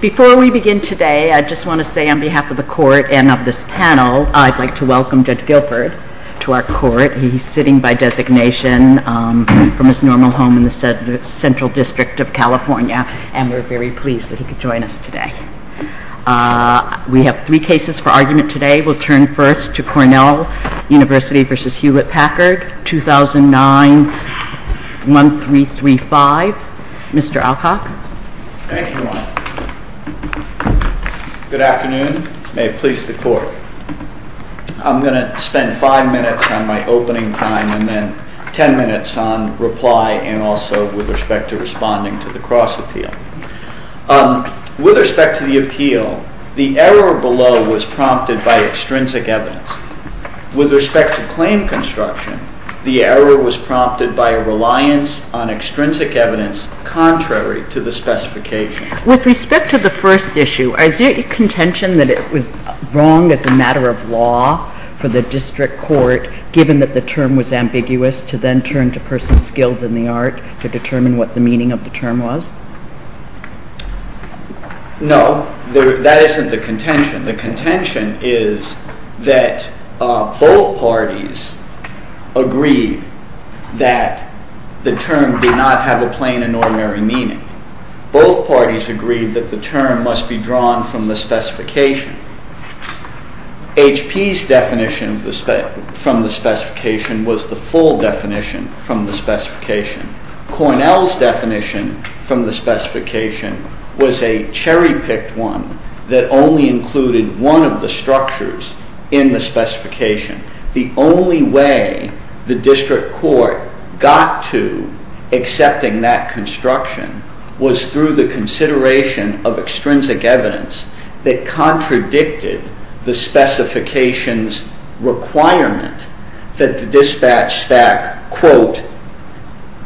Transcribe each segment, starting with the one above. Before we begin today, I just want to say on behalf of the Court and of this panel, I'd like to welcome Judge Guilford to our Court. He's sitting by designation from his normal home in the Central District of California, and we're very pleased that he could join us today. We have three cases for argument today. We'll turn first to Cornell University v. Hewlett-Packard, 2009, 1335. Mr. Alcock. Thank you, Your Honor. Good afternoon. May it please the Court. I'm going to spend five minutes on my opening time and then ten minutes on reply and also with respect to responding to the cross-appeal. With respect to the appeal, the error below was prompted by extrinsic evidence. With respect to claim construction, the error was prompted by a reliance on extrinsic evidence contrary to the specification. With respect to the first issue, is it contention that it was wrong as a matter of law for the District Court, given that the term was ambiguous, to then turn to persons skilled in the art to determine what the meaning of the term was? No, that isn't the contention. The contention is that both parties agreed that the term did not have a plain and ordinary meaning. Both parties agreed that the term must be drawn from the specification. HP's definition from the specification was the full definition from the specification. Cornell's definition from the specification was a cherry-picked one that only included one of the structures in the specification. The only way the District Court got to accepting that construction was through the consideration of extrinsic evidence that contradicted the specifications requirement that the dispatch stack, quote,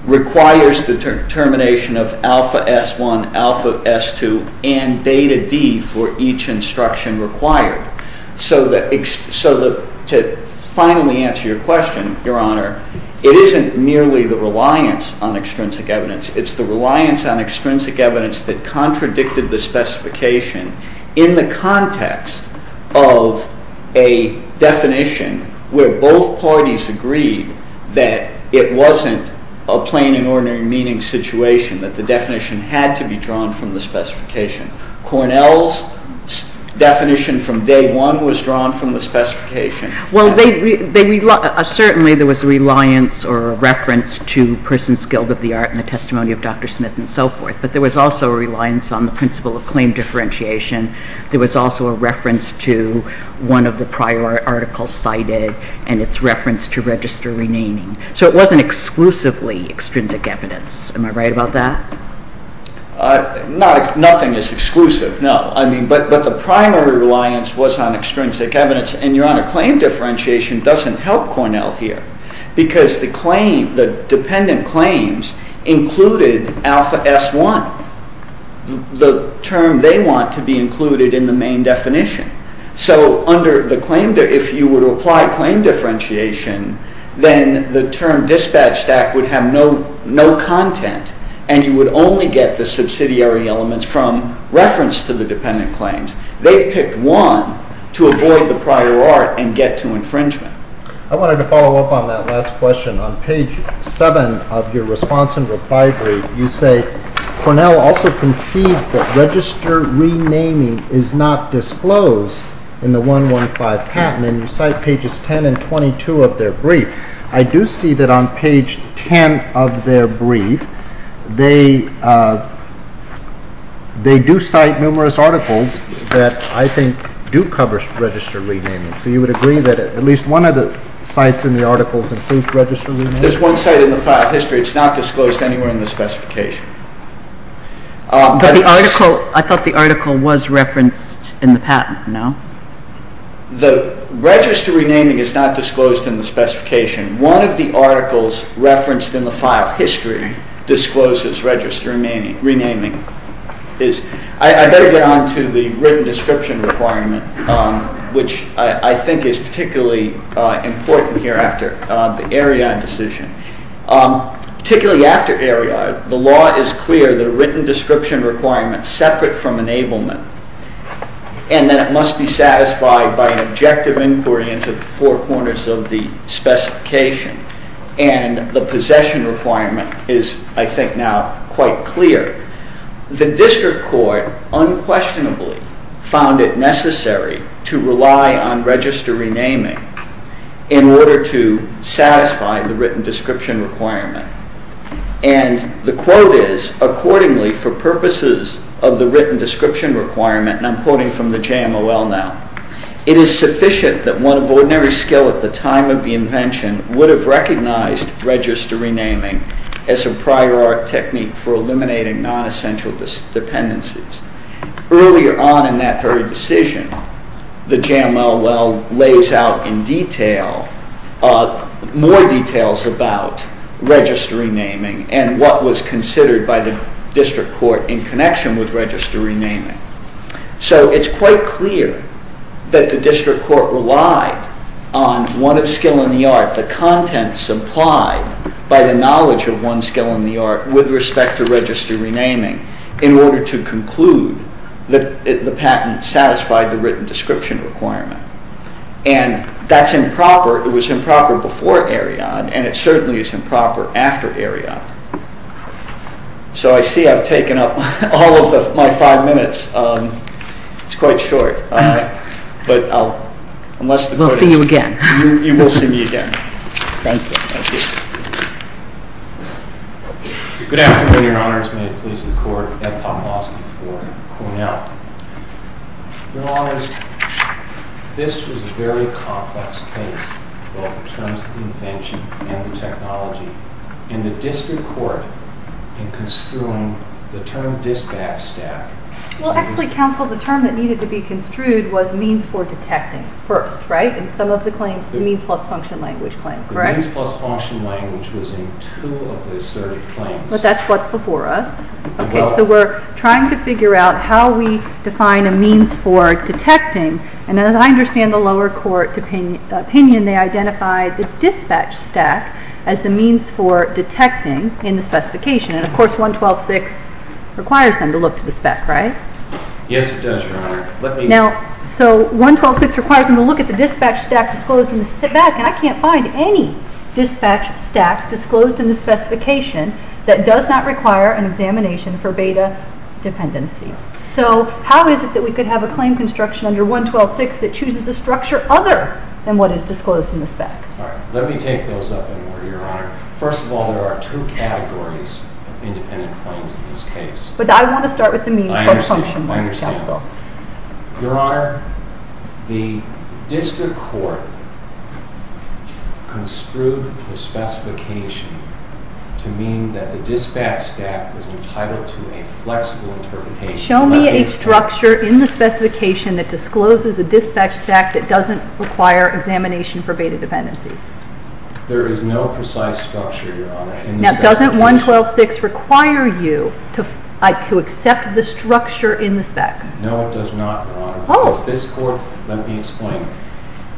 requires the termination of Alpha S1, Alpha S2, and Beta D for each instruction required. So to finally answer your question, Your Honor, it isn't merely the reliance on extrinsic evidence. It's the reliance on extrinsic evidence that contradicted the specification in the context of a definition where both parties agreed that it wasn't a plain and ordinary meaning situation, that the definition had to be drawn from the specification. Cornell's definition from day one was drawn from the specification. Well, certainly there was a reliance or a reference to Persons Guild of the Art and the testimony of Dr. Smith and so forth, but there was also a reliance on the principle of claim differentiation. There was also a reference to one of the prior articles cited and its reference to register renaming. So it wasn't exclusively extrinsic evidence. Am I right about that? Nothing is exclusive, no. But the primary reliance was on extrinsic evidence, and, Your Honor, claim differentiation doesn't help Cornell here because the dependent claims included Alpha S1, the term they want to be included in the main definition. So if you would apply claim differentiation, then the term dispatch stack would have no content and you would only get the subsidiary elements from reference to the dependent claims. They picked one to avoid the prior art and get to infringement. I wanted to follow up on that last question. On page 7 of your response and reply brief, you say, Cornell also concedes that register renaming is not disclosed in the 115 patent, and you cite pages 10 and 22 of their brief. I do see that on page 10 of their brief, they do cite numerous articles that I think do cover register renaming. So you would agree that at least one of the sites in the article includes register renaming? There's one site in the file history. It's not disclosed anywhere in the specification. But I thought the article was referenced in the patent, no? The register renaming is not disclosed in the specification. One of the articles referenced in the file history discloses register renaming. I better get on to the written description requirement, which I think is particularly important here after the Erriard decision. Particularly after Erriard, the law is clear that a written description requirement separate from enablement and that it must be satisfied by an objective inquiry into the four corners of the specification. And the possession requirement is, I think now, quite clear. The district court unquestionably found it necessary to rely on register renaming in order to satisfy the written description requirement. And the quote is, accordingly for purposes of the written description requirement, and I'm quoting from the JMOL now, it is sufficient that one of ordinary skill at the time of the invention would have recognized register renaming as a prior art technique for eliminating non-essential dependencies. Earlier on in that very decision, the JMOL lays out in detail, more details about register renaming and what was considered by the district court in connection with register renaming. So it's quite clear that the district court relied on one of skill in the art, the content supplied by the knowledge of one's skill in the art, with respect to register renaming, in order to conclude that the patent satisfied the written description requirement. And that's improper. It was improper before Eriod, and it certainly is improper after Eriod. So I see I've taken up all of my five minutes. It's quite short. We'll see you again. You will see me again. Thank you. Good afternoon, Your Honors. May it please the Court. Ed Pomlosky for Cornell. Your Honors, this was a very complex case, both in terms of the invention and the technology. In the district court, in construing the term dispatch stack. Well, actually, counsel, the term that needed to be construed was means for detecting first, right? In some of the claims, the means plus function language claims, correct? The means plus function language was in two of the asserted claims. But that's what's before us. Okay, so we're trying to figure out how we define a means for detecting. And as I understand the lower court opinion, they identified the dispatch stack as the means for detecting in the specification. And, of course, 112.6 requires them to look to the spec, right? Yes, it does, Your Honor. Now, so 112.6 requires them to look at the dispatch stack disclosed in the spec. And I can't find any dispatch stack disclosed in the specification that does not require an examination for beta dependencies. So how is it that we could have a claim construction under 112.6 that chooses a structure other than what is disclosed in the spec? Let me take those up in order, Your Honor. First of all, there are two categories of independent claims in this case. But I want to start with the means plus function language. I understand. Your Honor, the district court construed the specification to mean that the dispatch stack was entitled to a flexible interpretation. Show me a structure in the specification that discloses a dispatch stack that doesn't require examination for beta dependencies. There is no precise structure, Your Honor. Now, doesn't 112.6 require you to accept the structure in the spec? No, it does not, Your Honor. Oh. Let me explain.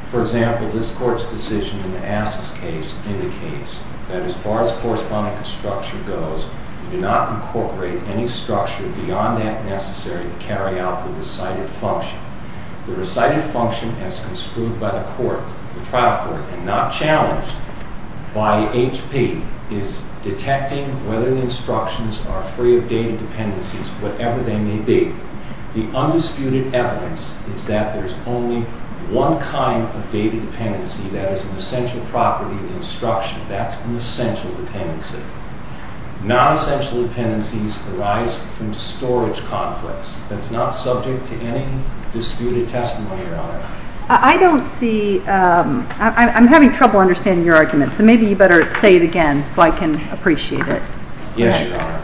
For example, this Court's decision in the Assess case indicates that as far as correspondence construction goes, we do not incorporate any structure beyond that necessary to carry out the recited function. The recited function as construed by the court, the trial court, and not challenged by HP, is detecting whether the instructions are free of data dependencies, whatever they may be. The undisputed evidence is that there's only one kind of data dependency that is an essential property of the instruction. That's an essential dependency. Non-essential dependencies arise from storage conflicts. That's not subject to any disputed testimony, Your Honor. I don't see... I'm having trouble understanding your argument, so maybe you better say it again so I can appreciate it. Yes, Your Honor.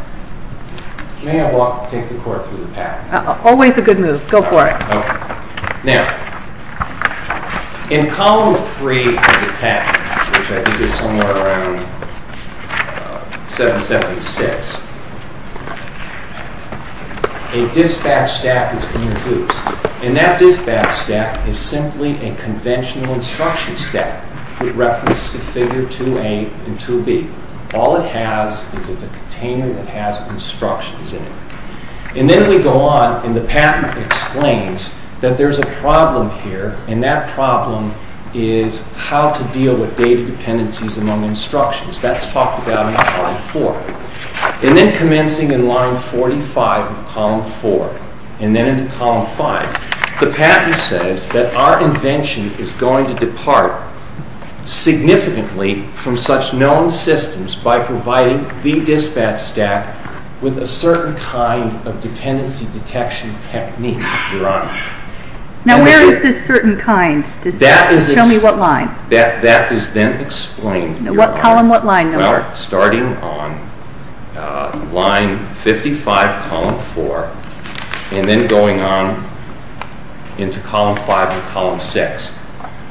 May I take the Court through the package? Always a good move. Go for it. Okay. Now, in Column 3 of the package, which I think is somewhere around 776, a dispatch stack is introduced. And that dispatch stack is simply a conventional instruction stack with reference to Figure 2a and 2b. All it has is it's a container that has instructions in it. And then we go on, and the patent explains that there's a problem here, and that problem is how to deal with data dependencies among instructions. That's talked about in Column 4. And then commencing in Line 45 of Column 4, and then into Column 5, the patent says that our invention is going to depart significantly from such known systems by providing the dispatch stack with a certain kind of dependency detection technique, Your Honor. Now, where is this certain kind? Tell me what line. That is then explained, Your Honor. Column what line, Your Honor? Starting on Line 55, Column 4, and then going on into Column 5 and Column 6.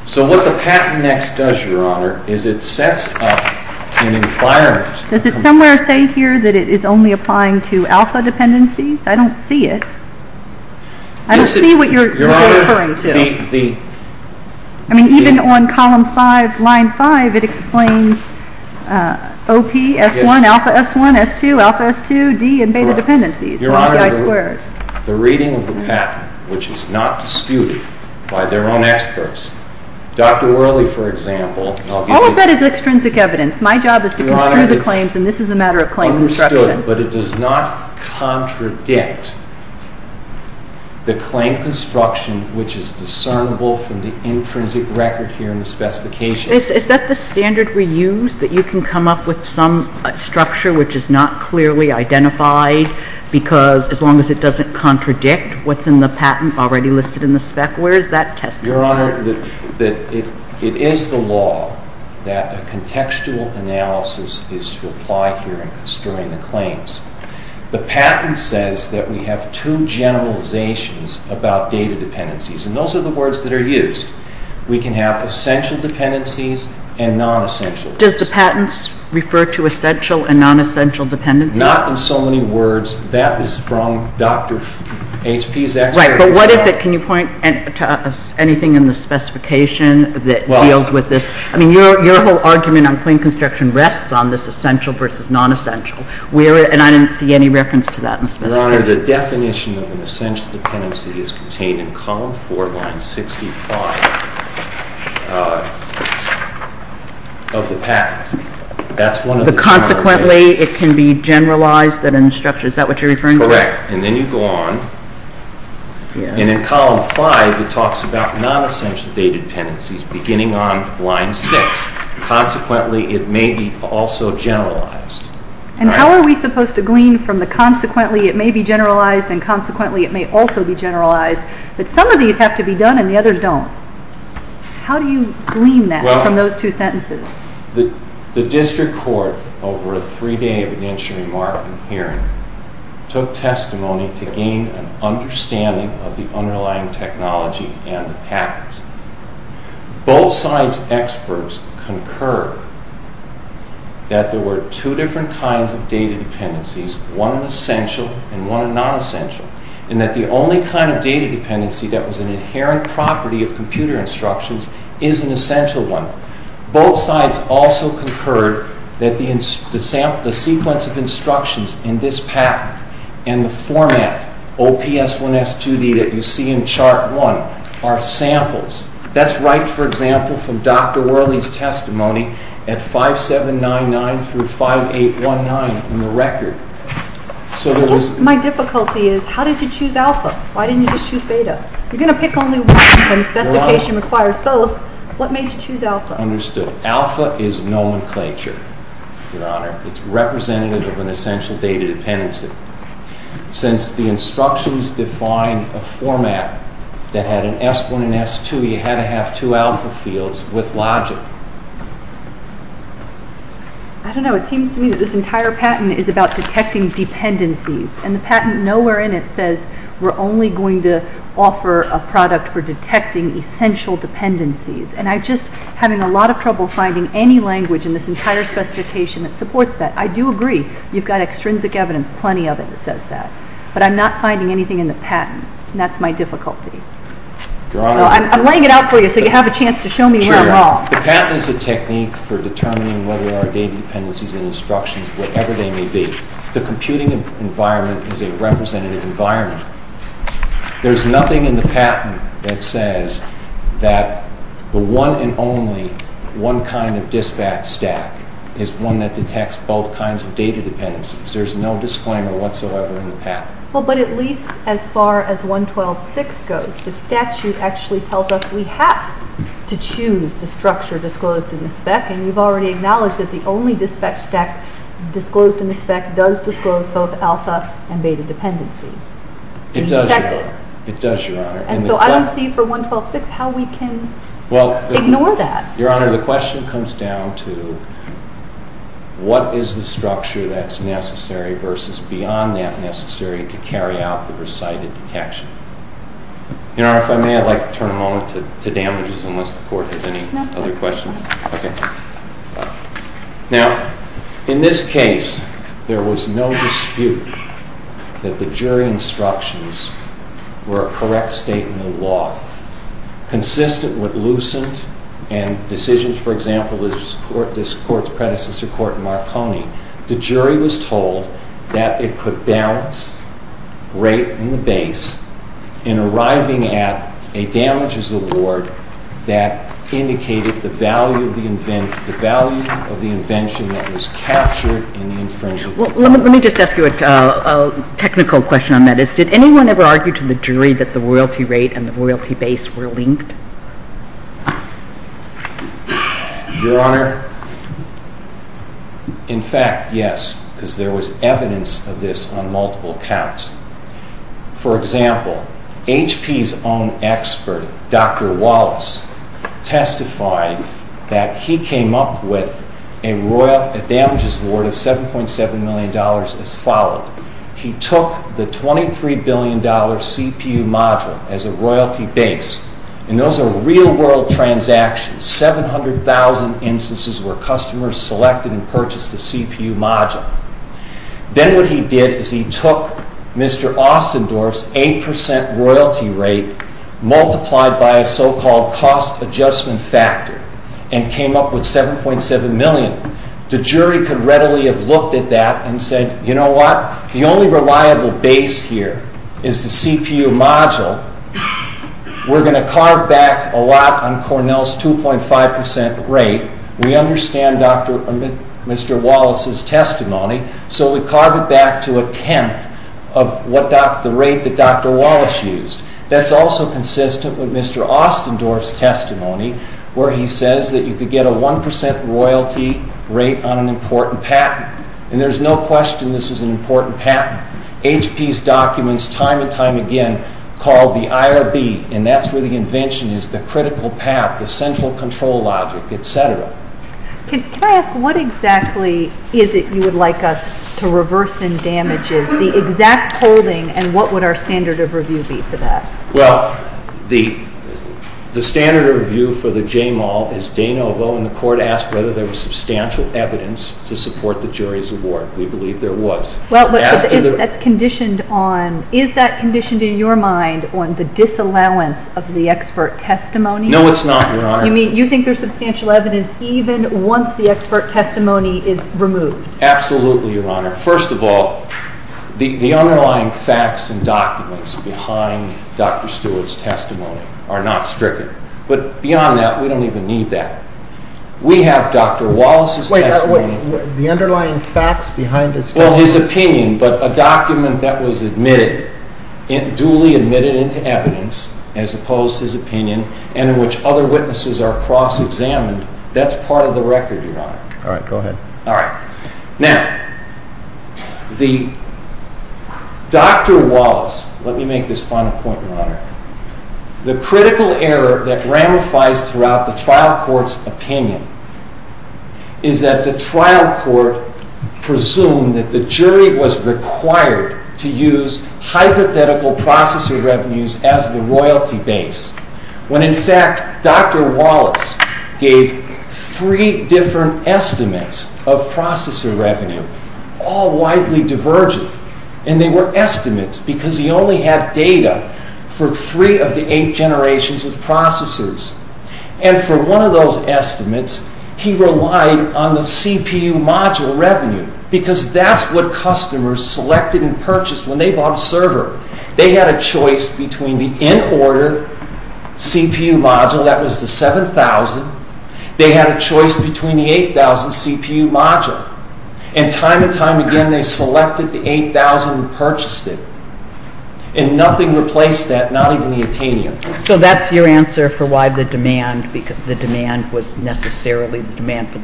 So what the patent next does, Your Honor, is it sets up an environment. Does it somewhere say here that it is only applying to alpha dependencies? I don't see it. I don't see what you're referring to. I mean, even on Column 5, Line 5, it explains OP, S1, alpha S1, S2, alpha S2, D, and beta dependencies. Your Honor, the reading of the patent, which is not disputed by their own experts, Dr. Worley, for example, All of that is extrinsic evidence. My job is to go through the claims, and this is a matter of claim construction. Is that the standard we use? That you can come up with some structure which is not clearly identified because as long as it doesn't contradict what's in the patent already listed in the spec, where is that testified? Your Honor, it is the law that a contextual analysis is to apply here in constructing the claims. The patent says that we have two generalizations about data dependencies, and those are the words that are used. We can have essential dependencies and non-essential dependencies. Does the patent refer to essential and non-essential dependencies? Not in so many words. That is from Dr. H.P.'s expertise. Right, but what is it? Can you point to anything in the specification that deals with this? I mean, your whole argument on claim construction rests on this essential And I didn't see any reference to that in the specification. Your Honor, the definition of an essential dependency is contained in Column 4, Line 65 of the patent. That's one of the generalizations. Consequently, it can be generalized and then structured. Is that what you're referring to? Correct. And then you go on, and in Column 5, it talks about non-essential data dependencies beginning on Line 6. Consequently, it may be also generalized. And how are we supposed to glean from the consequently it may be generalized and consequently it may also be generalized that some of these have to be done and the others don't? How do you glean that from those two sentences? The district court, over a three-day evidentiary hearing, took testimony to gain an understanding of the underlying technology and the patents. Both sides' experts concurred that there were two different kinds of data dependencies, one an essential and one a non-essential, and that the only kind of data dependency that was an inherent property of computer instructions is an essential one. Both sides also concurred that the sequence of instructions in this patent and the format, OPS1S2D, that you see in Chart 1 are samples. That's right, for example, from Dr. Worley's testimony at 5799 through 5819 in the record. My difficulty is, how did you choose alpha? Why didn't you just choose beta? You're going to pick only one, and specification requires both. What made you choose alpha? Understood. Alpha is nomenclature, Your Honor. It's representative of an essential data dependency. Since the instructions define a format that had an S1 and S2, you had to have two alpha fields with logic. I don't know. It seems to me that this entire patent is about detecting dependencies, and the patent nowhere in it says we're only going to offer a product for detecting essential dependencies. And I'm just having a lot of trouble finding any language in this entire specification that supports that. I do agree. You've got extrinsic evidence, plenty of it, that says that. But I'm not finding anything in the patent, and that's my difficulty. Your Honor. I'm laying it out for you so you have a chance to show me where I'm wrong. The patent is a technique for determining whether there are data dependencies in instructions, whatever they may be. The computing environment is a representative environment. There's nothing in the patent that says that the one and only one kind of dispatch stack is one that detects both kinds of data dependencies. There's no disclaimer whatsoever in the patent. Well, but at least as far as 112.6 goes, the statute actually tells us we have to choose the structure disclosed in the spec, and you've already acknowledged that the only dispatch stack disclosed in the spec does disclose both alpha and beta dependencies. It does, Your Honor. It does, Your Honor. And so I don't see for 112.6 how we can ignore that. Your Honor, the question comes down to what is the structure that's necessary versus beyond that necessary to carry out the recited detection. Your Honor, if I may, I'd like to turn a moment to damages unless the Court has any other questions. Okay. Now, in this case, there was no dispute that the jury instructions were a correct statement of law, consistent with Lucent and decisions, for example, of this Court's predecessor court, Marconi. The jury was told that it could balance rate and base in arriving at a damages award that indicated the value of the invention that was captured in the infringement. Well, let me just ask you a technical question on that. Did anyone ever argue to the jury that the royalty rate and the royalty base were linked? Your Honor, in fact, yes, because there was evidence of this on multiple counts. For example, HP's own expert, Dr. Wallace, testified that he came up with a damages award of $7.7 million as followed. He took the $23 billion CPU module as a royalty base, and those are real-world transactions, 700,000 instances where customers selected and purchased a CPU module. Then what he did is he took Mr. Ostendorf's 8% royalty rate multiplied by a so-called cost adjustment factor and came up with $7.7 million. The jury could readily have looked at that and said, you know what, the only reliable base here is the CPU module. We're going to carve back a lot on Cornell's 2.5% rate. We understand Mr. Wallace's testimony, so we carve it back to a tenth of the rate that Dr. Wallace used. That's also consistent with Mr. Ostendorf's testimony where he says that you could get a 1% royalty rate on an important patent, and there's no question this is an important patent. HP's documents time and time again call the IRB, and that's where the invention is, the critical path, the central control logic, et cetera. Can I ask what exactly is it you would like us to reverse in damages, the exact holding, and what would our standard of review be for that? Well, the standard of review for the JMAL is de novo, and the Court asked whether there was substantial evidence to support the jury's award. We believe there was. Is that conditioned in your mind on the disallowance of the expert testimony? No, it's not, Your Honor. You mean you think there's substantial evidence even once the expert testimony is removed? Absolutely, Your Honor. First of all, the underlying facts and documents behind Dr. Stewart's testimony are not stricken. But beyond that, we don't even need that. We have Dr. Wallace's testimony. Wait, the underlying facts behind his testimony? Well, his opinion, but a document that was admitted, duly admitted into evidence, as opposed to his opinion, and in which other witnesses are cross-examined, that's part of the record, Your Honor. All right, go ahead. All right. Now, Dr. Wallace, let me make this final point, Your Honor. The critical error that ramifies throughout the trial court's opinion is that the trial court presumed that the jury was required to use hypothetical processor revenues as the royalty base, when, in fact, Dr. Wallace gave three different estimates of processor revenue, all widely divergent. And they were estimates because he only had data for three of the eight generations of processors. And for one of those estimates, he relied on the CPU module revenue because that's what customers selected and purchased when they bought a server. They had a choice between the in-order CPU module, that was the 7,000. They had a choice between the 8,000 CPU module. And time and time again, they selected the 8,000 and purchased it. And nothing replaced that, not even the Itanium. So that's your answer for why the demand for the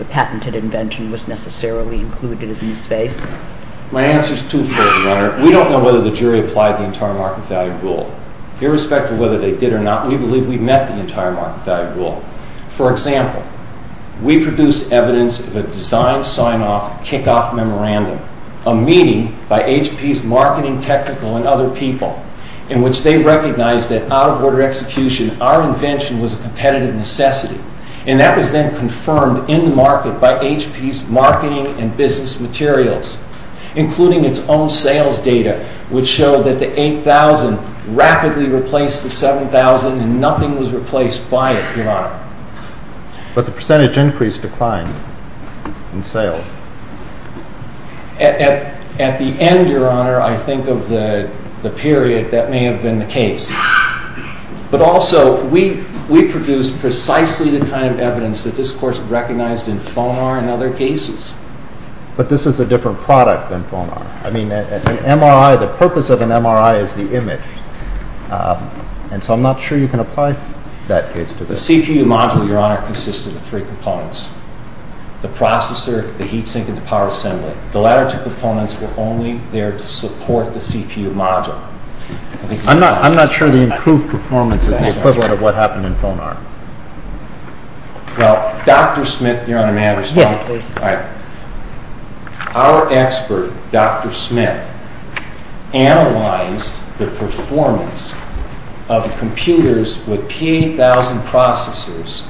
patented invention was necessarily included in the space? My answer is twofold, Your Honor. We don't know whether the jury applied the entire market value rule. Irrespective of whether they did or not, we believe we met the entire market value rule. For example, we produced evidence of a design sign-off kickoff memorandum, a meeting by HP's marketing technical and other people in which they recognized that out-of-order execution, our invention was a competitive necessity. And that was then confirmed in the market by HP's marketing and business materials, including its own sales data, which showed that the 8,000 rapidly replaced the 7,000 and nothing was replaced by it, Your Honor. But the percentage increase declined in sales. At the end, Your Honor, I think of the period that may have been the case. But also, we produced precisely the kind of evidence that this course recognized in Fonar and other cases. But this is a different product than Fonar. I mean, an MRI, the purpose of an MRI is the image. And so I'm not sure you can apply that case to this. The CPU module, Your Honor, consisted of three components. The processor, the heat sink, and the power assembly. The latter two components were only there to support the CPU module. I'm not sure the improved performance is the equivalent of what happened in Fonar. Well, Dr. Smith, Your Honor, may I respond? Yes, please. Our expert, Dr. Smith, analyzed the performance of computers with P8,000 processors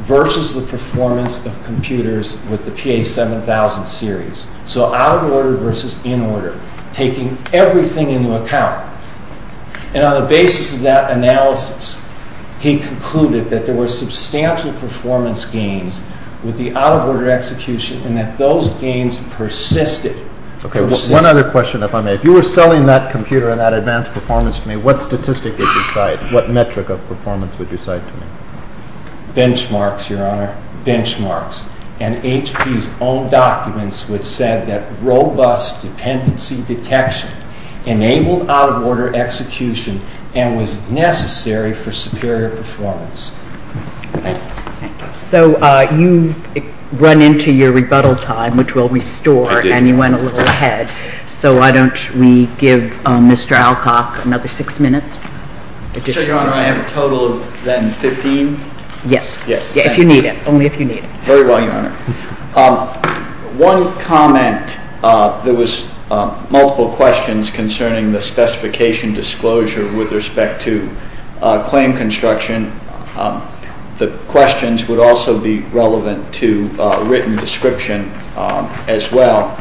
versus the performance of computers with the P8,000 series. So out-of-order versus in-order, taking everything into account. And on the basis of that analysis, he concluded that there were substantial performance gains with the out-of-order execution and that those gains persisted. Okay, one other question, if I may. If you were selling that computer and that advanced performance to me, what statistic would you cite? What metric of performance would you cite to me? Benchmarks, Your Honor, benchmarks. And HP's own documents would say that robust dependency detection enabled out-of-order execution and was necessary for superior performance. Thank you. So you've run into your rebuttal time, which we'll restore. I did. And you went a little ahead. So why don't we give Mr. Alcock another six minutes? Sure, Your Honor. I have a total of then 15? Yes. Yes. If you need it, only if you need it. Very well, Your Honor. One comment, there was multiple questions concerning the specification disclosure with respect to claim construction. The questions would also be relevant to written description as well.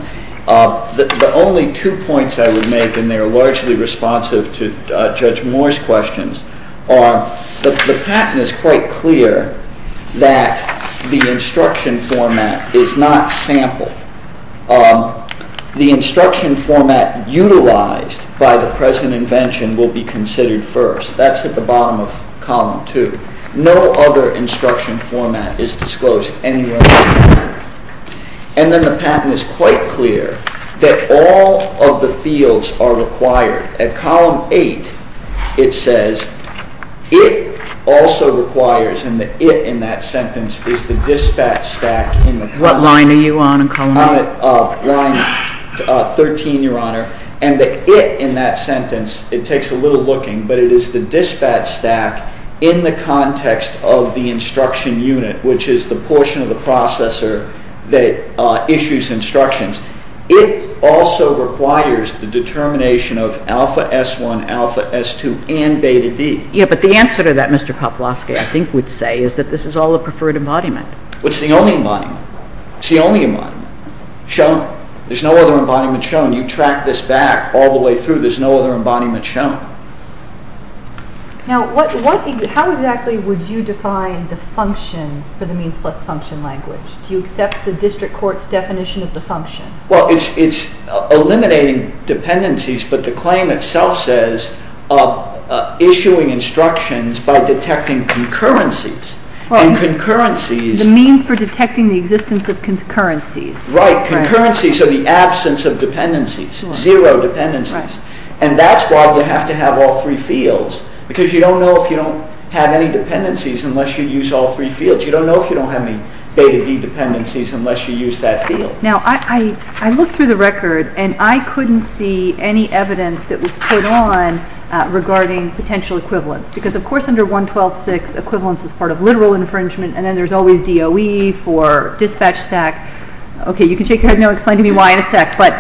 The only two points I would make, and they are largely responsive to Judge Moore's questions, are the patent is quite clear that the instruction format is not sampled. The instruction format utilized by the present invention will be considered first. That's at the bottom of Column 2. No other instruction format is disclosed anywhere in the patent. And then the patent is quite clear that all of the fields are required. At Column 8, it says, it also requires, and the it in that sentence is the dispatch stack. What line are you on in Column 8? Line 13, Your Honor. And the it in that sentence, it takes a little looking, but it is the dispatch stack in the context of the instruction unit, which is the portion of the processor that issues instructions. It also requires the determination of Alpha S1, Alpha S2, and Beta D. Yes, but the answer to that, Mr. Kaploski, I think would say, is that this is all a preferred embodiment. It's the only embodiment. It's the only embodiment shown. There's no other embodiment shown. You track this back all the way through. There's no other embodiment shown. Now, how exactly would you define the function for the means plus function language? Do you accept the district court's definition of the function? Well, it's eliminating dependencies, but the claim itself says issuing instructions by detecting concurrencies. The means for detecting the existence of concurrencies. Right. Concurrencies are the absence of dependencies, zero dependencies, and that's why you have to have all three fields, because you don't know if you don't have any dependencies unless you use all three fields. You don't know if you don't have any Beta D dependencies unless you use that field. Now, I looked through the record, and I couldn't see any evidence that was put on regarding potential equivalence, because, of course, under 112.6, equivalence is part of literal infringement, and then there's always DOE for dispatch stack. Okay, you can shake your head now and explain to me why in a sec, but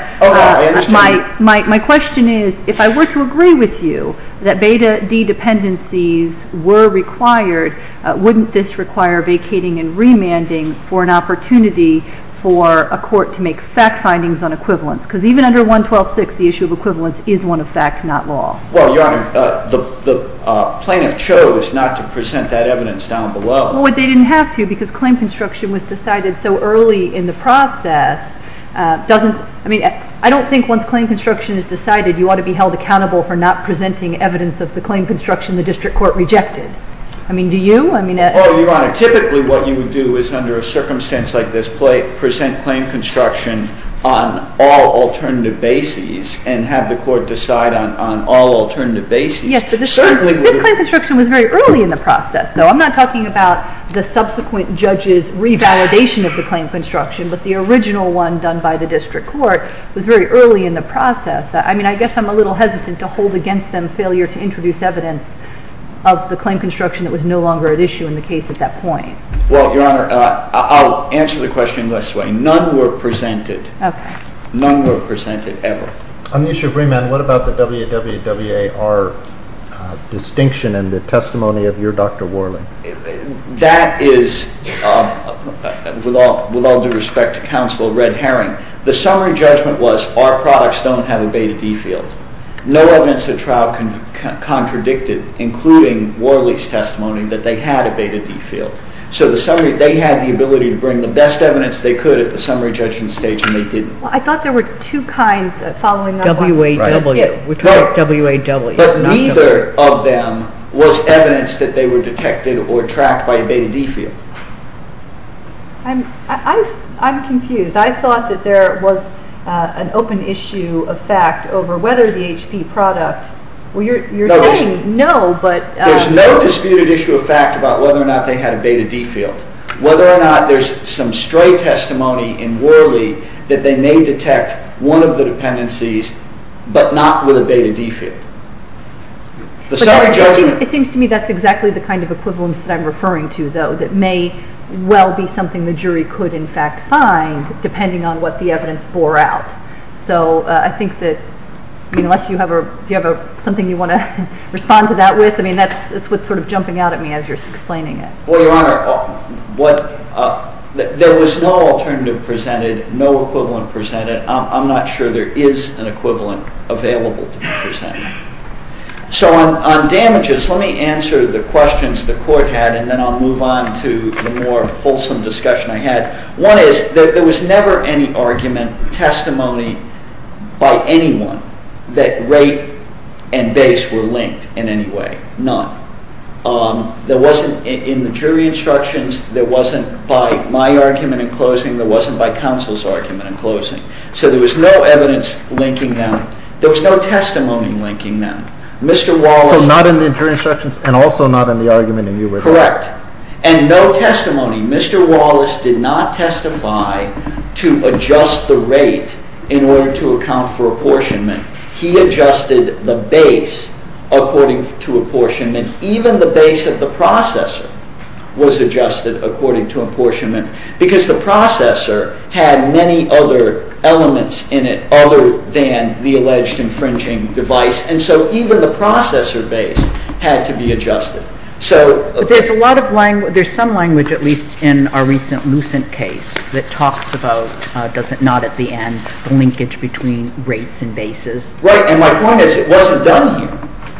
my question is if I were to agree with you that Beta D dependencies were required, wouldn't this require vacating and remanding for an opportunity for a court to make fact findings on equivalence? Because even under 112.6, the issue of equivalence is one of fact, not law. Well, Your Honor, the plaintiff chose not to present that evidence down below. Well, but they didn't have to, because claim construction was decided so early in the process. I don't think once claim construction is decided, you ought to be held accountable for not presenting evidence of the claim construction the district court rejected. I mean, do you? Well, Your Honor, typically what you would do is under a circumstance like this present claim construction on all alternative bases and have the court decide on all alternative bases. Yes, but this claim construction was very early in the process, though. I'm not talking about the subsequent judge's revalidation of the claim construction, but the original one done by the district court was very early in the process. I mean, I guess I'm a little hesitant to hold against them failure to introduce evidence of the claim construction that was no longer at issue in the case at that point. Well, Your Honor, I'll answer the question this way. None were presented. Okay. None were presented ever. Aneesha Breaman, what about the WWWAR distinction and the testimony of your Dr. Worley? That is, with all due respect to counsel, a red herring. The summary judgment was our products don't have a Beta D field. No evidence at trial contradicted, including Worley's testimony, that they had a Beta D field. So they had the ability to bring the best evidence they could at the summary judgment stage, and they didn't. Well, I thought there were two kinds following that one. WAW. Right. We call it WAW. But neither of them was evidence that they were detected or tracked by a Beta D field. I'm confused. I thought that there was an open issue of fact over whether the HP product Well, you're saying no, but There's no disputed issue of fact about whether or not they had a Beta D field, whether or not there's some stray testimony in Worley that they may detect one of the dependencies but not with a Beta D field. The summary judgment It seems to me that's exactly the kind of equivalence that I'm referring to, though, that may well be something the jury could, in fact, find, depending on what the evidence bore out. So I think that unless you have something you want to respond to that with, I mean, that's what's sort of jumping out at me as you're explaining it. Well, Your Honor, there was no alternative presented, no equivalent presented. I'm not sure there is an equivalent available to be presented. So on damages, let me answer the questions the Court had, and then I'll move on to the more fulsome discussion I had. One is that there was never any argument, testimony by anyone that rate and base were linked in any way, none. There wasn't in the jury instructions, there wasn't by my argument in closing, there wasn't by counsel's argument in closing. So there was no evidence linking them. There was no testimony linking them. Mr. Wallace So not in the jury instructions and also not in the argument and you were there. Correct. And no testimony. Mr. Wallace did not testify to adjust the rate in order to account for apportionment. He adjusted the base according to apportionment. Even the base of the processor was adjusted according to apportionment because the processor had many other elements in it other than the alleged infringing device. And so even the processor base had to be adjusted. But there's some language, at least in our recent Lucent case, that talks about not at the end the linkage between rates and bases. Right. And my point is it wasn't done here.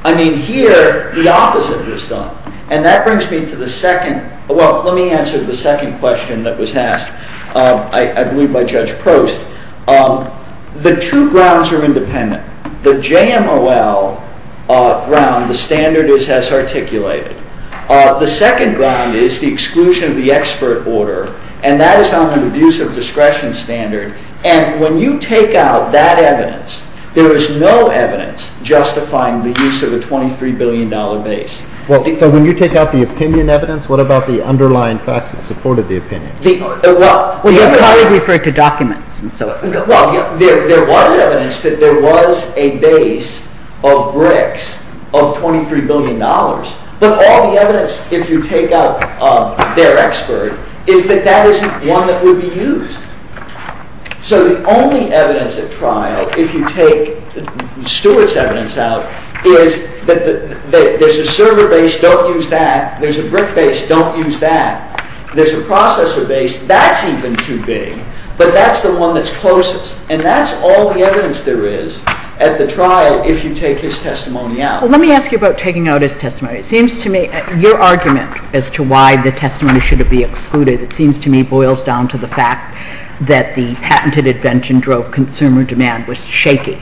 I mean, here the opposite is done. And that brings me to the second, well, let me answer the second question that was asked, I believe by Judge Prost. The two grounds are independent. The JMOL ground, the standard is as articulated. The second ground is the exclusion of the expert order, and that is on an abuse of discretion standard. And when you take out that evidence, there is no evidence justifying the use of a $23 billion base. So when you take out the opinion evidence, what about the underlying facts that supported the opinion? Well, you probably referred to documents. Well, there was evidence that there was a base of bricks of $23 billion. But all the evidence, if you take out their expert, is that that isn't one that would be used. So the only evidence at trial, if you take Stewart's evidence out, is that there's a server base, don't use that. There's a brick base, don't use that. There's a processor base, that's even too big. But that's the one that's closest, and that's all the evidence there is at the trial, if you take his testimony out. Well, let me ask you about taking out his testimony. It seems to me your argument as to why the testimony should be excluded, it seems to me boils down to the fact that the patented invention drove consumer demand was shaky.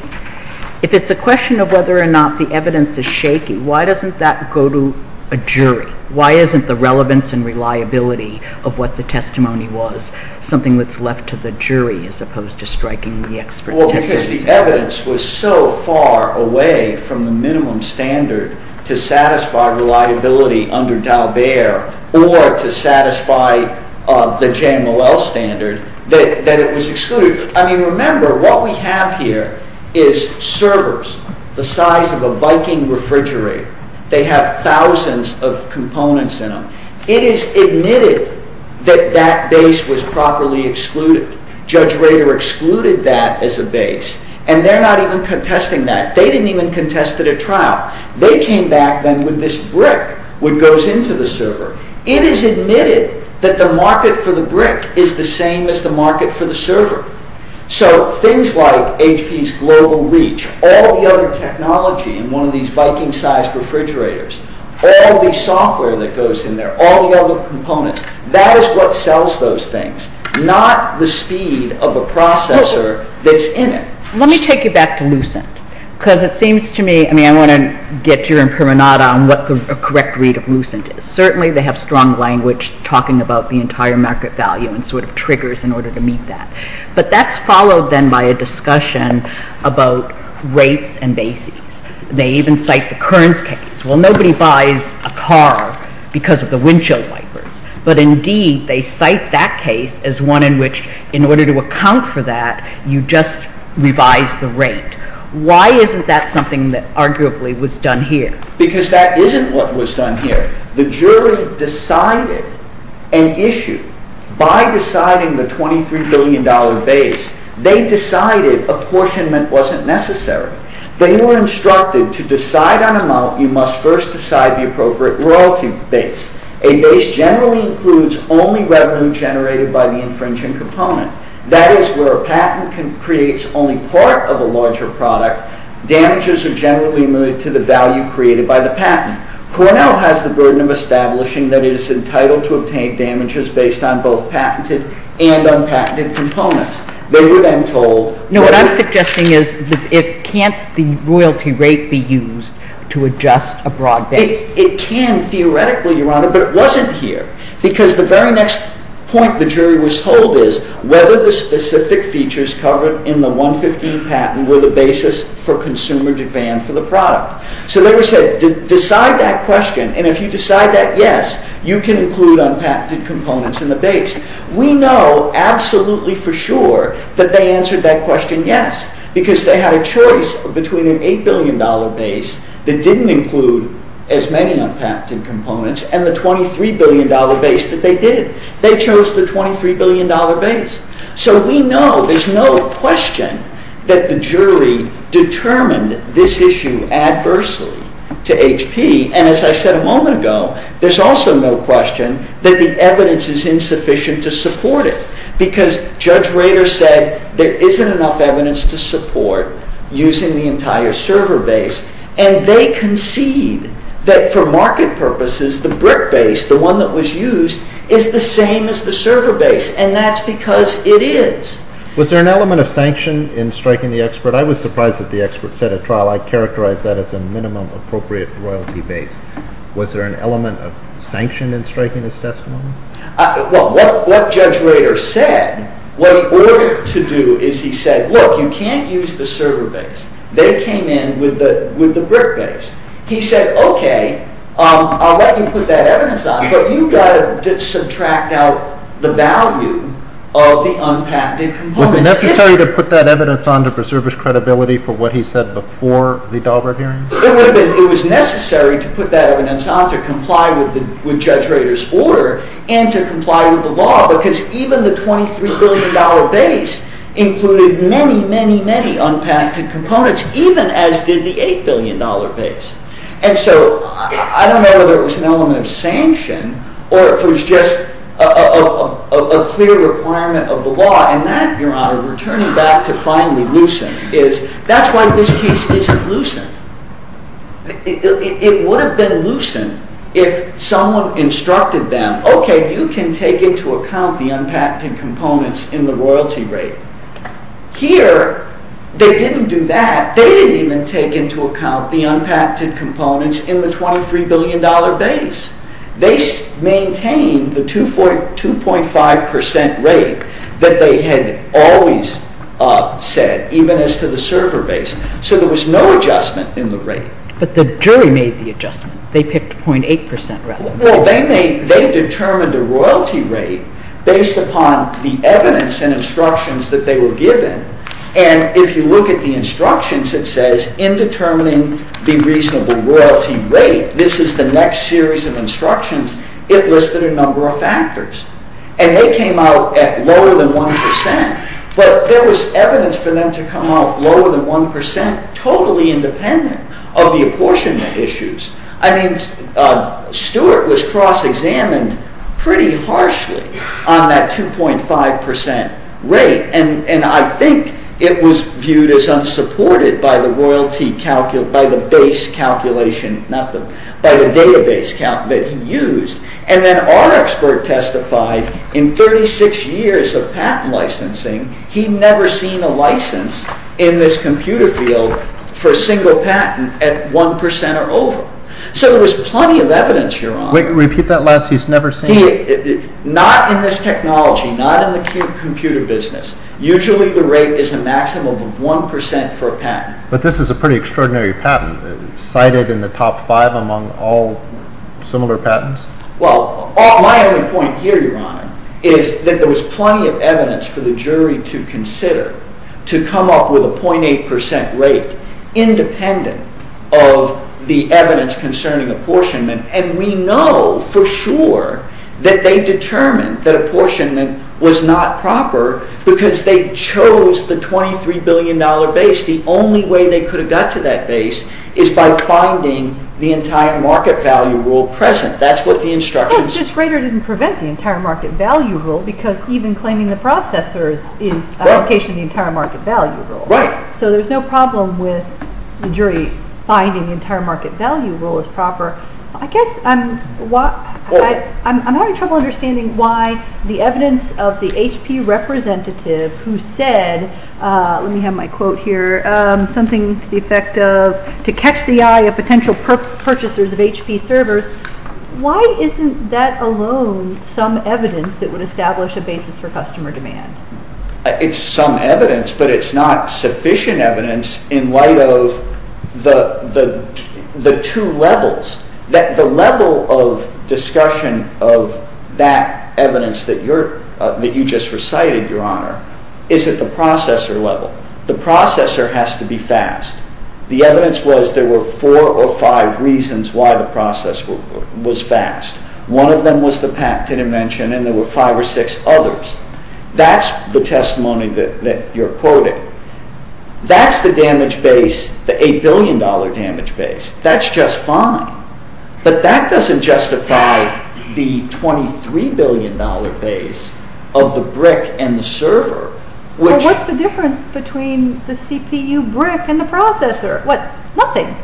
If it's a question of whether or not the evidence is shaky, why doesn't that go to a jury? Why isn't the relevance and reliability of what the testimony was something that's left to the jury as opposed to striking the expertise? Well, because the evidence was so far away from the minimum standard to satisfy reliability under Dalbert or to satisfy the JMLL standard that it was excluded. I mean, remember, what we have here is servers the size of a Viking refrigerator. They have thousands of components in them. It is admitted that that base was properly excluded. Judge Rader excluded that as a base, and they're not even contesting that. They didn't even contest it at trial. They came back then with this brick, which goes into the server. It is admitted that the market for the brick is the same as the market for the server. So things like HP's Global Reach, all the other technology in one of these Viking-sized refrigerators, all the software that goes in there, all the other components, that is what sells those things, not the speed of a processor that's in it. Let me take you back to Lucent, because it seems to me, I mean, I want to get your imperonada on what the correct read of Lucent is. Certainly they have strong language talking about the entire market value and sort of triggers in order to meet that. But that's followed then by a discussion about rates and bases. They even cite the Kearns case. Well, nobody buys a car because of the windshield wipers. But indeed, they cite that case as one in which, in order to account for that, you just revise the rate. Why isn't that something that arguably was done here? Because that isn't what was done here. The jury decided an issue. By deciding the $23 billion base, they decided apportionment wasn't necessary. They were instructed, to decide on amount, you must first decide the appropriate royalty base. A base generally includes only revenue generated by the infringing component. That is, where a patent creates only part of a larger product, damages are generally moved to the value created by the patent. Cornell has the burden of establishing that it is entitled to obtain damages based on both patented and unpatented components. They were then told... No, what I'm suggesting is, can't the royalty rate be used to adjust a broad base? It can theoretically, Your Honor, but it wasn't here. Because the very next point the jury was told is whether the specific features covered in the 115 patent were the basis for consumer demand for the product. So they were said, decide that question, and if you decide that, yes, you can include unpatented components in the base. We know absolutely for sure that they answered that question yes, because they had a choice between an $8 billion base that didn't include as many unpatented components and the $23 billion base that they did. They chose the $23 billion base. So we know there's no question that the jury determined this issue adversely to HP, and as I said a moment ago, there's also no question that the evidence is insufficient to support it, because Judge Rader said there isn't enough evidence to support using the entire server base, and they concede that for market purposes the brick base, the one that was used, is the same as the server base, and that's because it is. Was there an element of sanction in striking the expert? I was surprised that the expert set a trial. I characterize that as a minimum appropriate royalty base. Was there an element of sanction in striking his testimony? Well, what Judge Rader said, what he ordered to do is he said, look, you can't use the server base. They came in with the brick base. He said, okay, I'll let you put that evidence on, but you've got to subtract out the value of the unpacted components. Was it necessary to put that evidence on to preserve his credibility for what he said before the Dahlberg hearing? It was necessary to put that evidence on to comply with Judge Rader's order, and to comply with the law, because even the $23 billion base included many, many, many unpacted components, even as did the $8 billion base. And so I don't know whether it was an element of sanction or if it was just a clear requirement of the law, and that, Your Honor, we're turning back to finally loosen, is that's why this case isn't loosened. It would have been loosened if someone instructed them, okay, you can take into account the unpacted components in the royalty rate. Here, they didn't do that. They didn't even take into account the unpacted components in the $23 billion base. They maintained the 2.5% rate that they had always said, even as to the server base. So there was no adjustment in the rate. But the jury made the adjustment. They picked 0.8% rate. Well, they determined the royalty rate based upon the evidence and instructions that they were given. And if you look at the instructions, it says in determining the reasonable royalty rate, this is the next series of instructions, it listed a number of factors. And they came out at lower than 1%. But there was evidence for them to come out lower than 1% totally independent of the apportionment issues. I mean, Stuart was cross-examined pretty harshly on that 2.5% rate. And I think it was viewed as unsupported by the base calculation, by the database that he used. And then our expert testified in 36 years of patent licensing, he'd never seen a license in this computer field for a single patent at 1% or over. So there was plenty of evidence, Your Honor. Repeat that last, he's never seen... Not in this technology, not in the computer business. Usually the rate is a maximum of 1% for a patent. But this is a pretty extraordinary patent. Cited in the top five among all similar patents. Well, my only point here, Your Honor, is that there was plenty of evidence for the jury to consider to come up with a 0.8% rate independent of the evidence concerning apportionment. And we know for sure that they determined that apportionment was not proper because they chose the $23 billion base. The only way they could have got to that base is by finding the entire market value rule present. That's what the instructions... But Schrader didn't prevent the entire market value rule because even claiming the processors is a violation of the entire market value rule. Right. So there's no problem with the jury finding the entire market value rule as proper. I guess I'm having trouble understanding why the evidence of the HP representative who said, let me have my quote here, something to the effect of to catch the eye of potential purchasers of HP servers, why isn't that alone some evidence that would establish a basis for customer demand? It's some evidence, but it's not sufficient evidence in light of the two levels. The level of discussion of that evidence that you just recited, Your Honor, is at the processor level. The processor has to be fast. The evidence was there were four or five reasons why the processor was fast. One of them was the patent invention and there were five or six others. That's the testimony that you're quoting. That's the damage base, the $8 billion damage base. That's just fine. But that doesn't justify the $23 billion base of the brick and the server. What's the difference between the CPU brick and the processor? Nothing.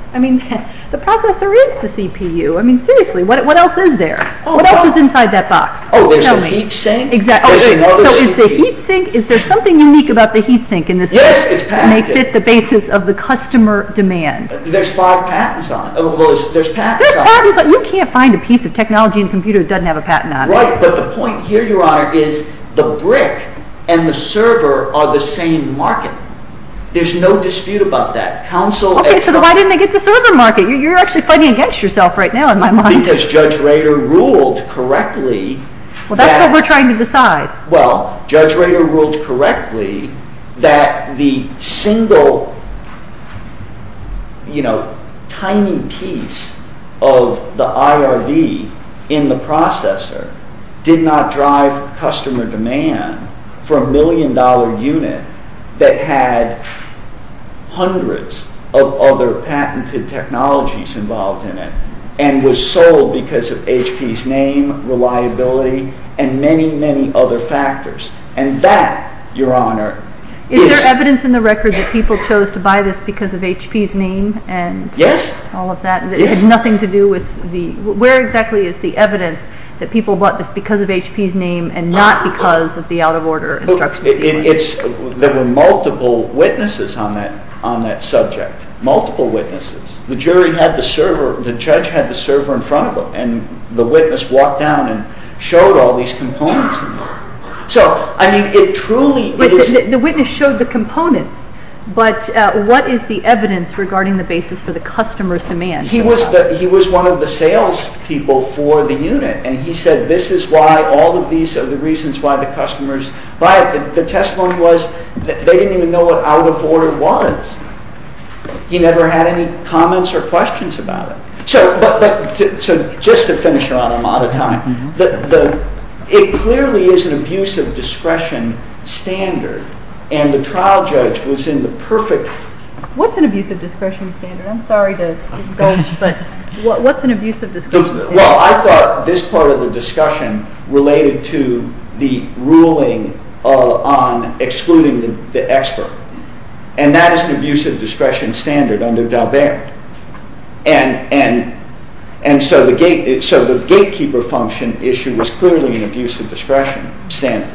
The processor is the CPU. Seriously, what else is there? What else is inside that box? Oh, there's a heat sink. So is there something unique about the heat sink in this case that makes it the basis of the customer demand? There's five patents on it. You can't find a piece of technology in a computer that doesn't have a patent on it. Right, but the point here, Your Honor, is the brick and the server are the same market. There's no dispute about that. Why didn't they get the server market? You're actually fighting against yourself right now, in my mind. Because Judge Rader ruled correctly... Well, that's what we're trying to decide. Well, Judge Rader ruled correctly that the single, you know, tiny piece of the IRV in the processor did not drive customer demand for a million-dollar unit that had hundreds of other patented technologies involved in it and was sold because of HP's name, reliability, and many, many other factors. And that, Your Honor... Is there evidence in the record that people chose to buy this because of HP's name and all of that? It has nothing to do with the... Where exactly is the evidence that people bought this because of HP's name and not because of the out-of-order instructions? There were multiple witnesses on that subject. Multiple witnesses. The jury had the server... The judge had the server in front of him and the witness walked down and showed all these components. So, I mean, it truly... But the witness showed the components. But what is the evidence regarding the basis for the customer's demand? He was one of the salespeople for the unit and he said this is why all of these are the reasons why the customers buy it. The testimony was they didn't even know what out-of-order was. He never had any comments or questions about it. So, just to finish, Your Honor, I'm out of time. It clearly is an abuse of discretion standard and the trial judge was in the perfect... What's an abuse of discretion standard? I'm sorry to indulge, but... What's an abuse of discretion standard? Well, I thought this part of the discussion related to the ruling on excluding the expert. And that is an abuse of discretion standard under Dalbert. And so the gatekeeper function issue was clearly an abuse of discretion standard.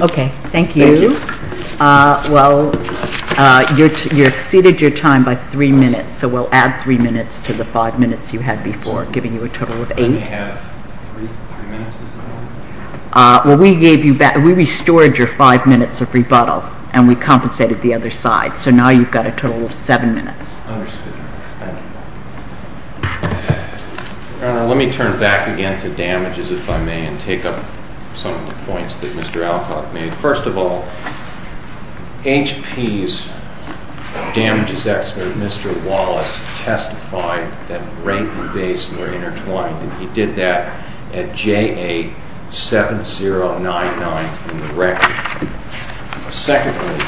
Okay, thank you. Thank you. Well, you exceeded your time by three minutes, so we'll add three minutes to the five minutes you had before, giving you a total of eight. Can I have three minutes as well? Well, we restored your five minutes of rebuttal and we compensated the other side, so now you've got a total of seven minutes. Understood. Thank you. Your Honor, let me turn back again to damages, if I may, and take up some of the points that Mr. Alcock made. First of all, HP's damages expert, Mr. Wallace, testified that rate and base were intertwined and he did that at J.A. 7099 in the record. Secondly,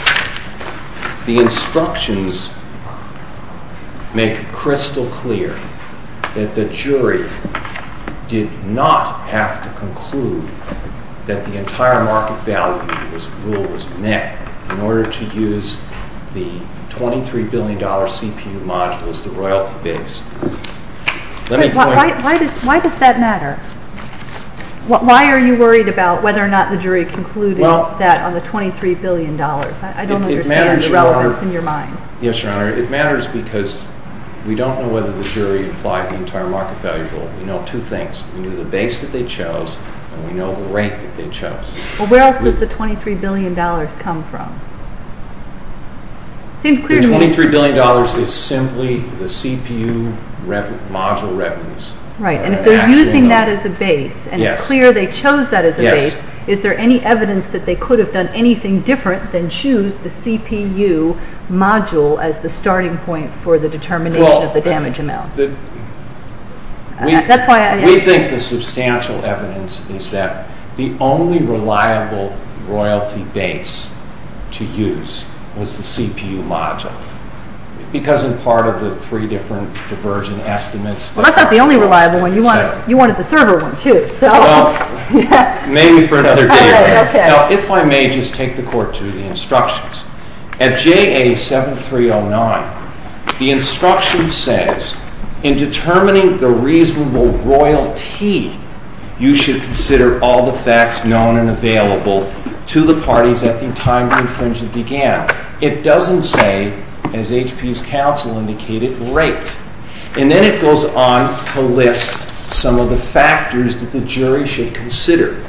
the instructions make crystal clear that the jury did not have to conclude that the entire market value rule was met in order to use the $23 billion CPU module as the royalty base. Why does that matter? Why are you worried about whether or not the jury concluded that on the $23 billion? I don't understand the relevance in your mind. Yes, Your Honor. It matters because we don't know whether the jury applied the entire market value rule. We know two things. We know the base that they chose and we know the rate that they chose. Well, where else does the $23 billion come from? The $23 billion is simply the CPU module revenues. Right, and if they're using that as a base and it's clear they chose that as a base, is there any evidence that they could have done anything different than choose the CPU module as the starting point for the determination of the damage amount? We think the substantial evidence is that the only reliable royalty base to use was the CPU module because in part of the three different divergent estimates... Well, that's not the only reliable one. You wanted the server one, too. Well, maybe for another day. Now, if I may just take the Court to the instructions. At JA7309, the instruction says, in determining the reasonable royalty, you should consider all the facts known and available to the parties at the time the infringement began. It doesn't say, as HP's counsel indicated, rate. And then it goes on to list some of the factors that the jury should consider,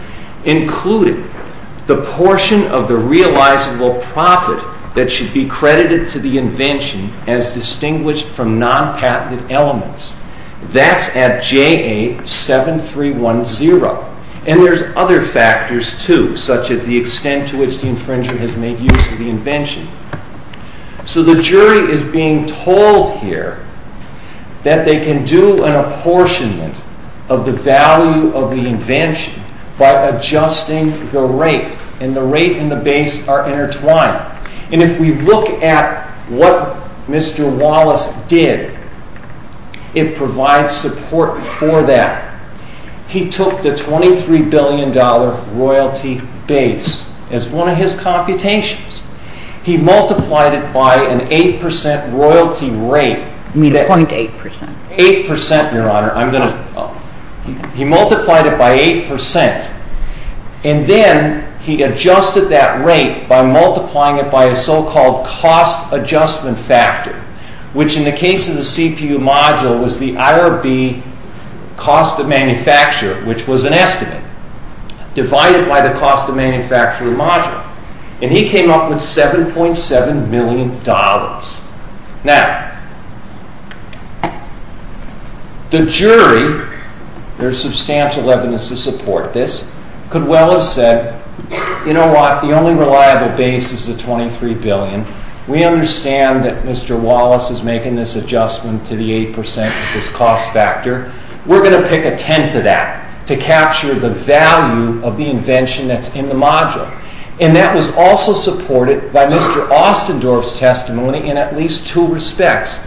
including the portion of the realizable profit that should be credited to the invention as distinguished from non-patented elements. That's at JA7310. And there's other factors, too, such as the extent to which the infringer has made use of the invention. So the jury is being told here that they can do an apportionment of the value of the invention by adjusting the rate. And the rate and the base are intertwined. And if we look at what Mr. Wallace did, it provides support for that. He took the $23 billion royalty base as one of his computations. He multiplied it by an 8% royalty rate. You mean the 0.8%? 8%, Your Honor. He multiplied it by 8%. And then he adjusted that rate by multiplying it by a so-called cost adjustment factor, which in the case of the CPU module was the IRB cost of manufacture, which was an estimate, divided by the cost of manufacturing module. And he came up with $7.7 million. Now, the jury, there's substantial evidence to support this, could well have said, you know what, the only reliable base is the $23 billion. We understand that Mr. Wallace is making this adjustment to the 8% of this cost factor. We're going to pick a tenth of that to capture the value of the invention that's in the module. And that was also supported by Mr. Ostendorf's testimony in at least two respects.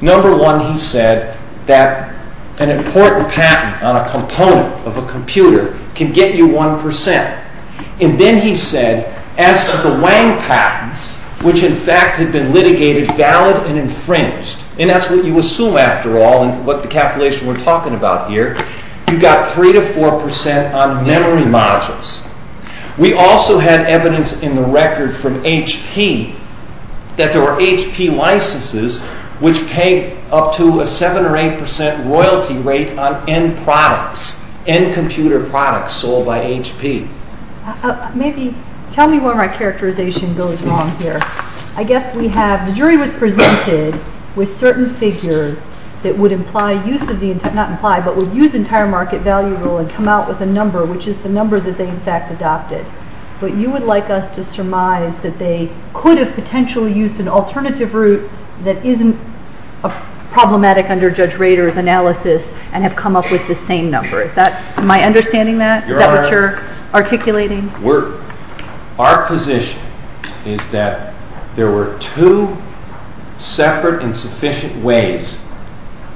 Number one, he said that an important patent on a component of a computer can get you 1%. And then he said, as to the Wang patents, which in fact had been litigated valid and infringed, and that's what you assume after all, and what the calculation we're talking about here, you got 3% to 4% on memory modules. We also had evidence in the record from HP that there were HP licenses which paid up to a 7% or 8% royalty rate on end products, end computer products sold by HP. Maybe, tell me where my characterization goes wrong here. I guess we have, the jury was presented with certain figures that would imply use of the, not imply, but would use entire market value and come out with a number, which is the number that they in fact adopted. But you would like us to surmise that they could have potentially used an alternative route that isn't problematic under Judge Rader's analysis and have come up with the same number. Is that, am I understanding that? Is that what you're articulating? Our position is that there were two separate and sufficient ways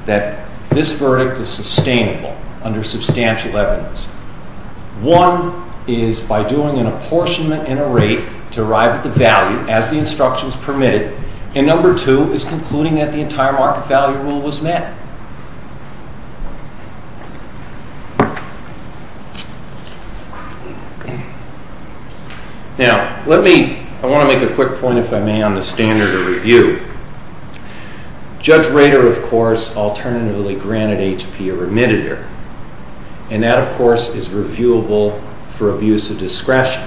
that this verdict is sustainable under substantial evidence. One is by doing an apportionment in a rate to arrive at the value as the instructions permitted, and number two is concluding that the entire market value rule was met. Now, let me, I want to make a quick point if I may on the standard of review. Judge Rader, of course, alternatively granted HP a remittitor. And that, of course, is reviewable for abuse of discretion.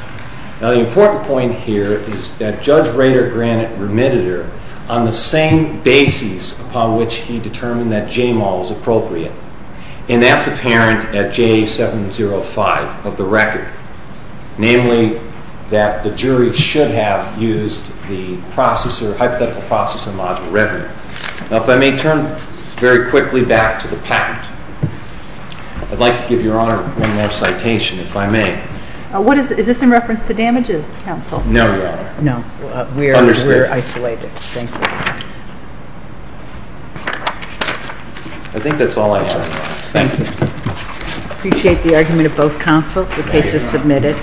Now the important point here is that Judge Rader granted remittitor on the same basis upon which he determined that JMAL was appropriate. And that's apparent at J705 of the record. Namely, that the jury should have used the processor, hypothetical processor module revenue. Now if I may turn very quickly back to the patent. I'd like to give Your Honor one more citation, if I may. What is, is this in reference to damages, counsel? No, Your Honor. No. We're isolated. Thank you. I think that's all I have. Thank you. Appreciate the argument of both counsels. The case is submitted.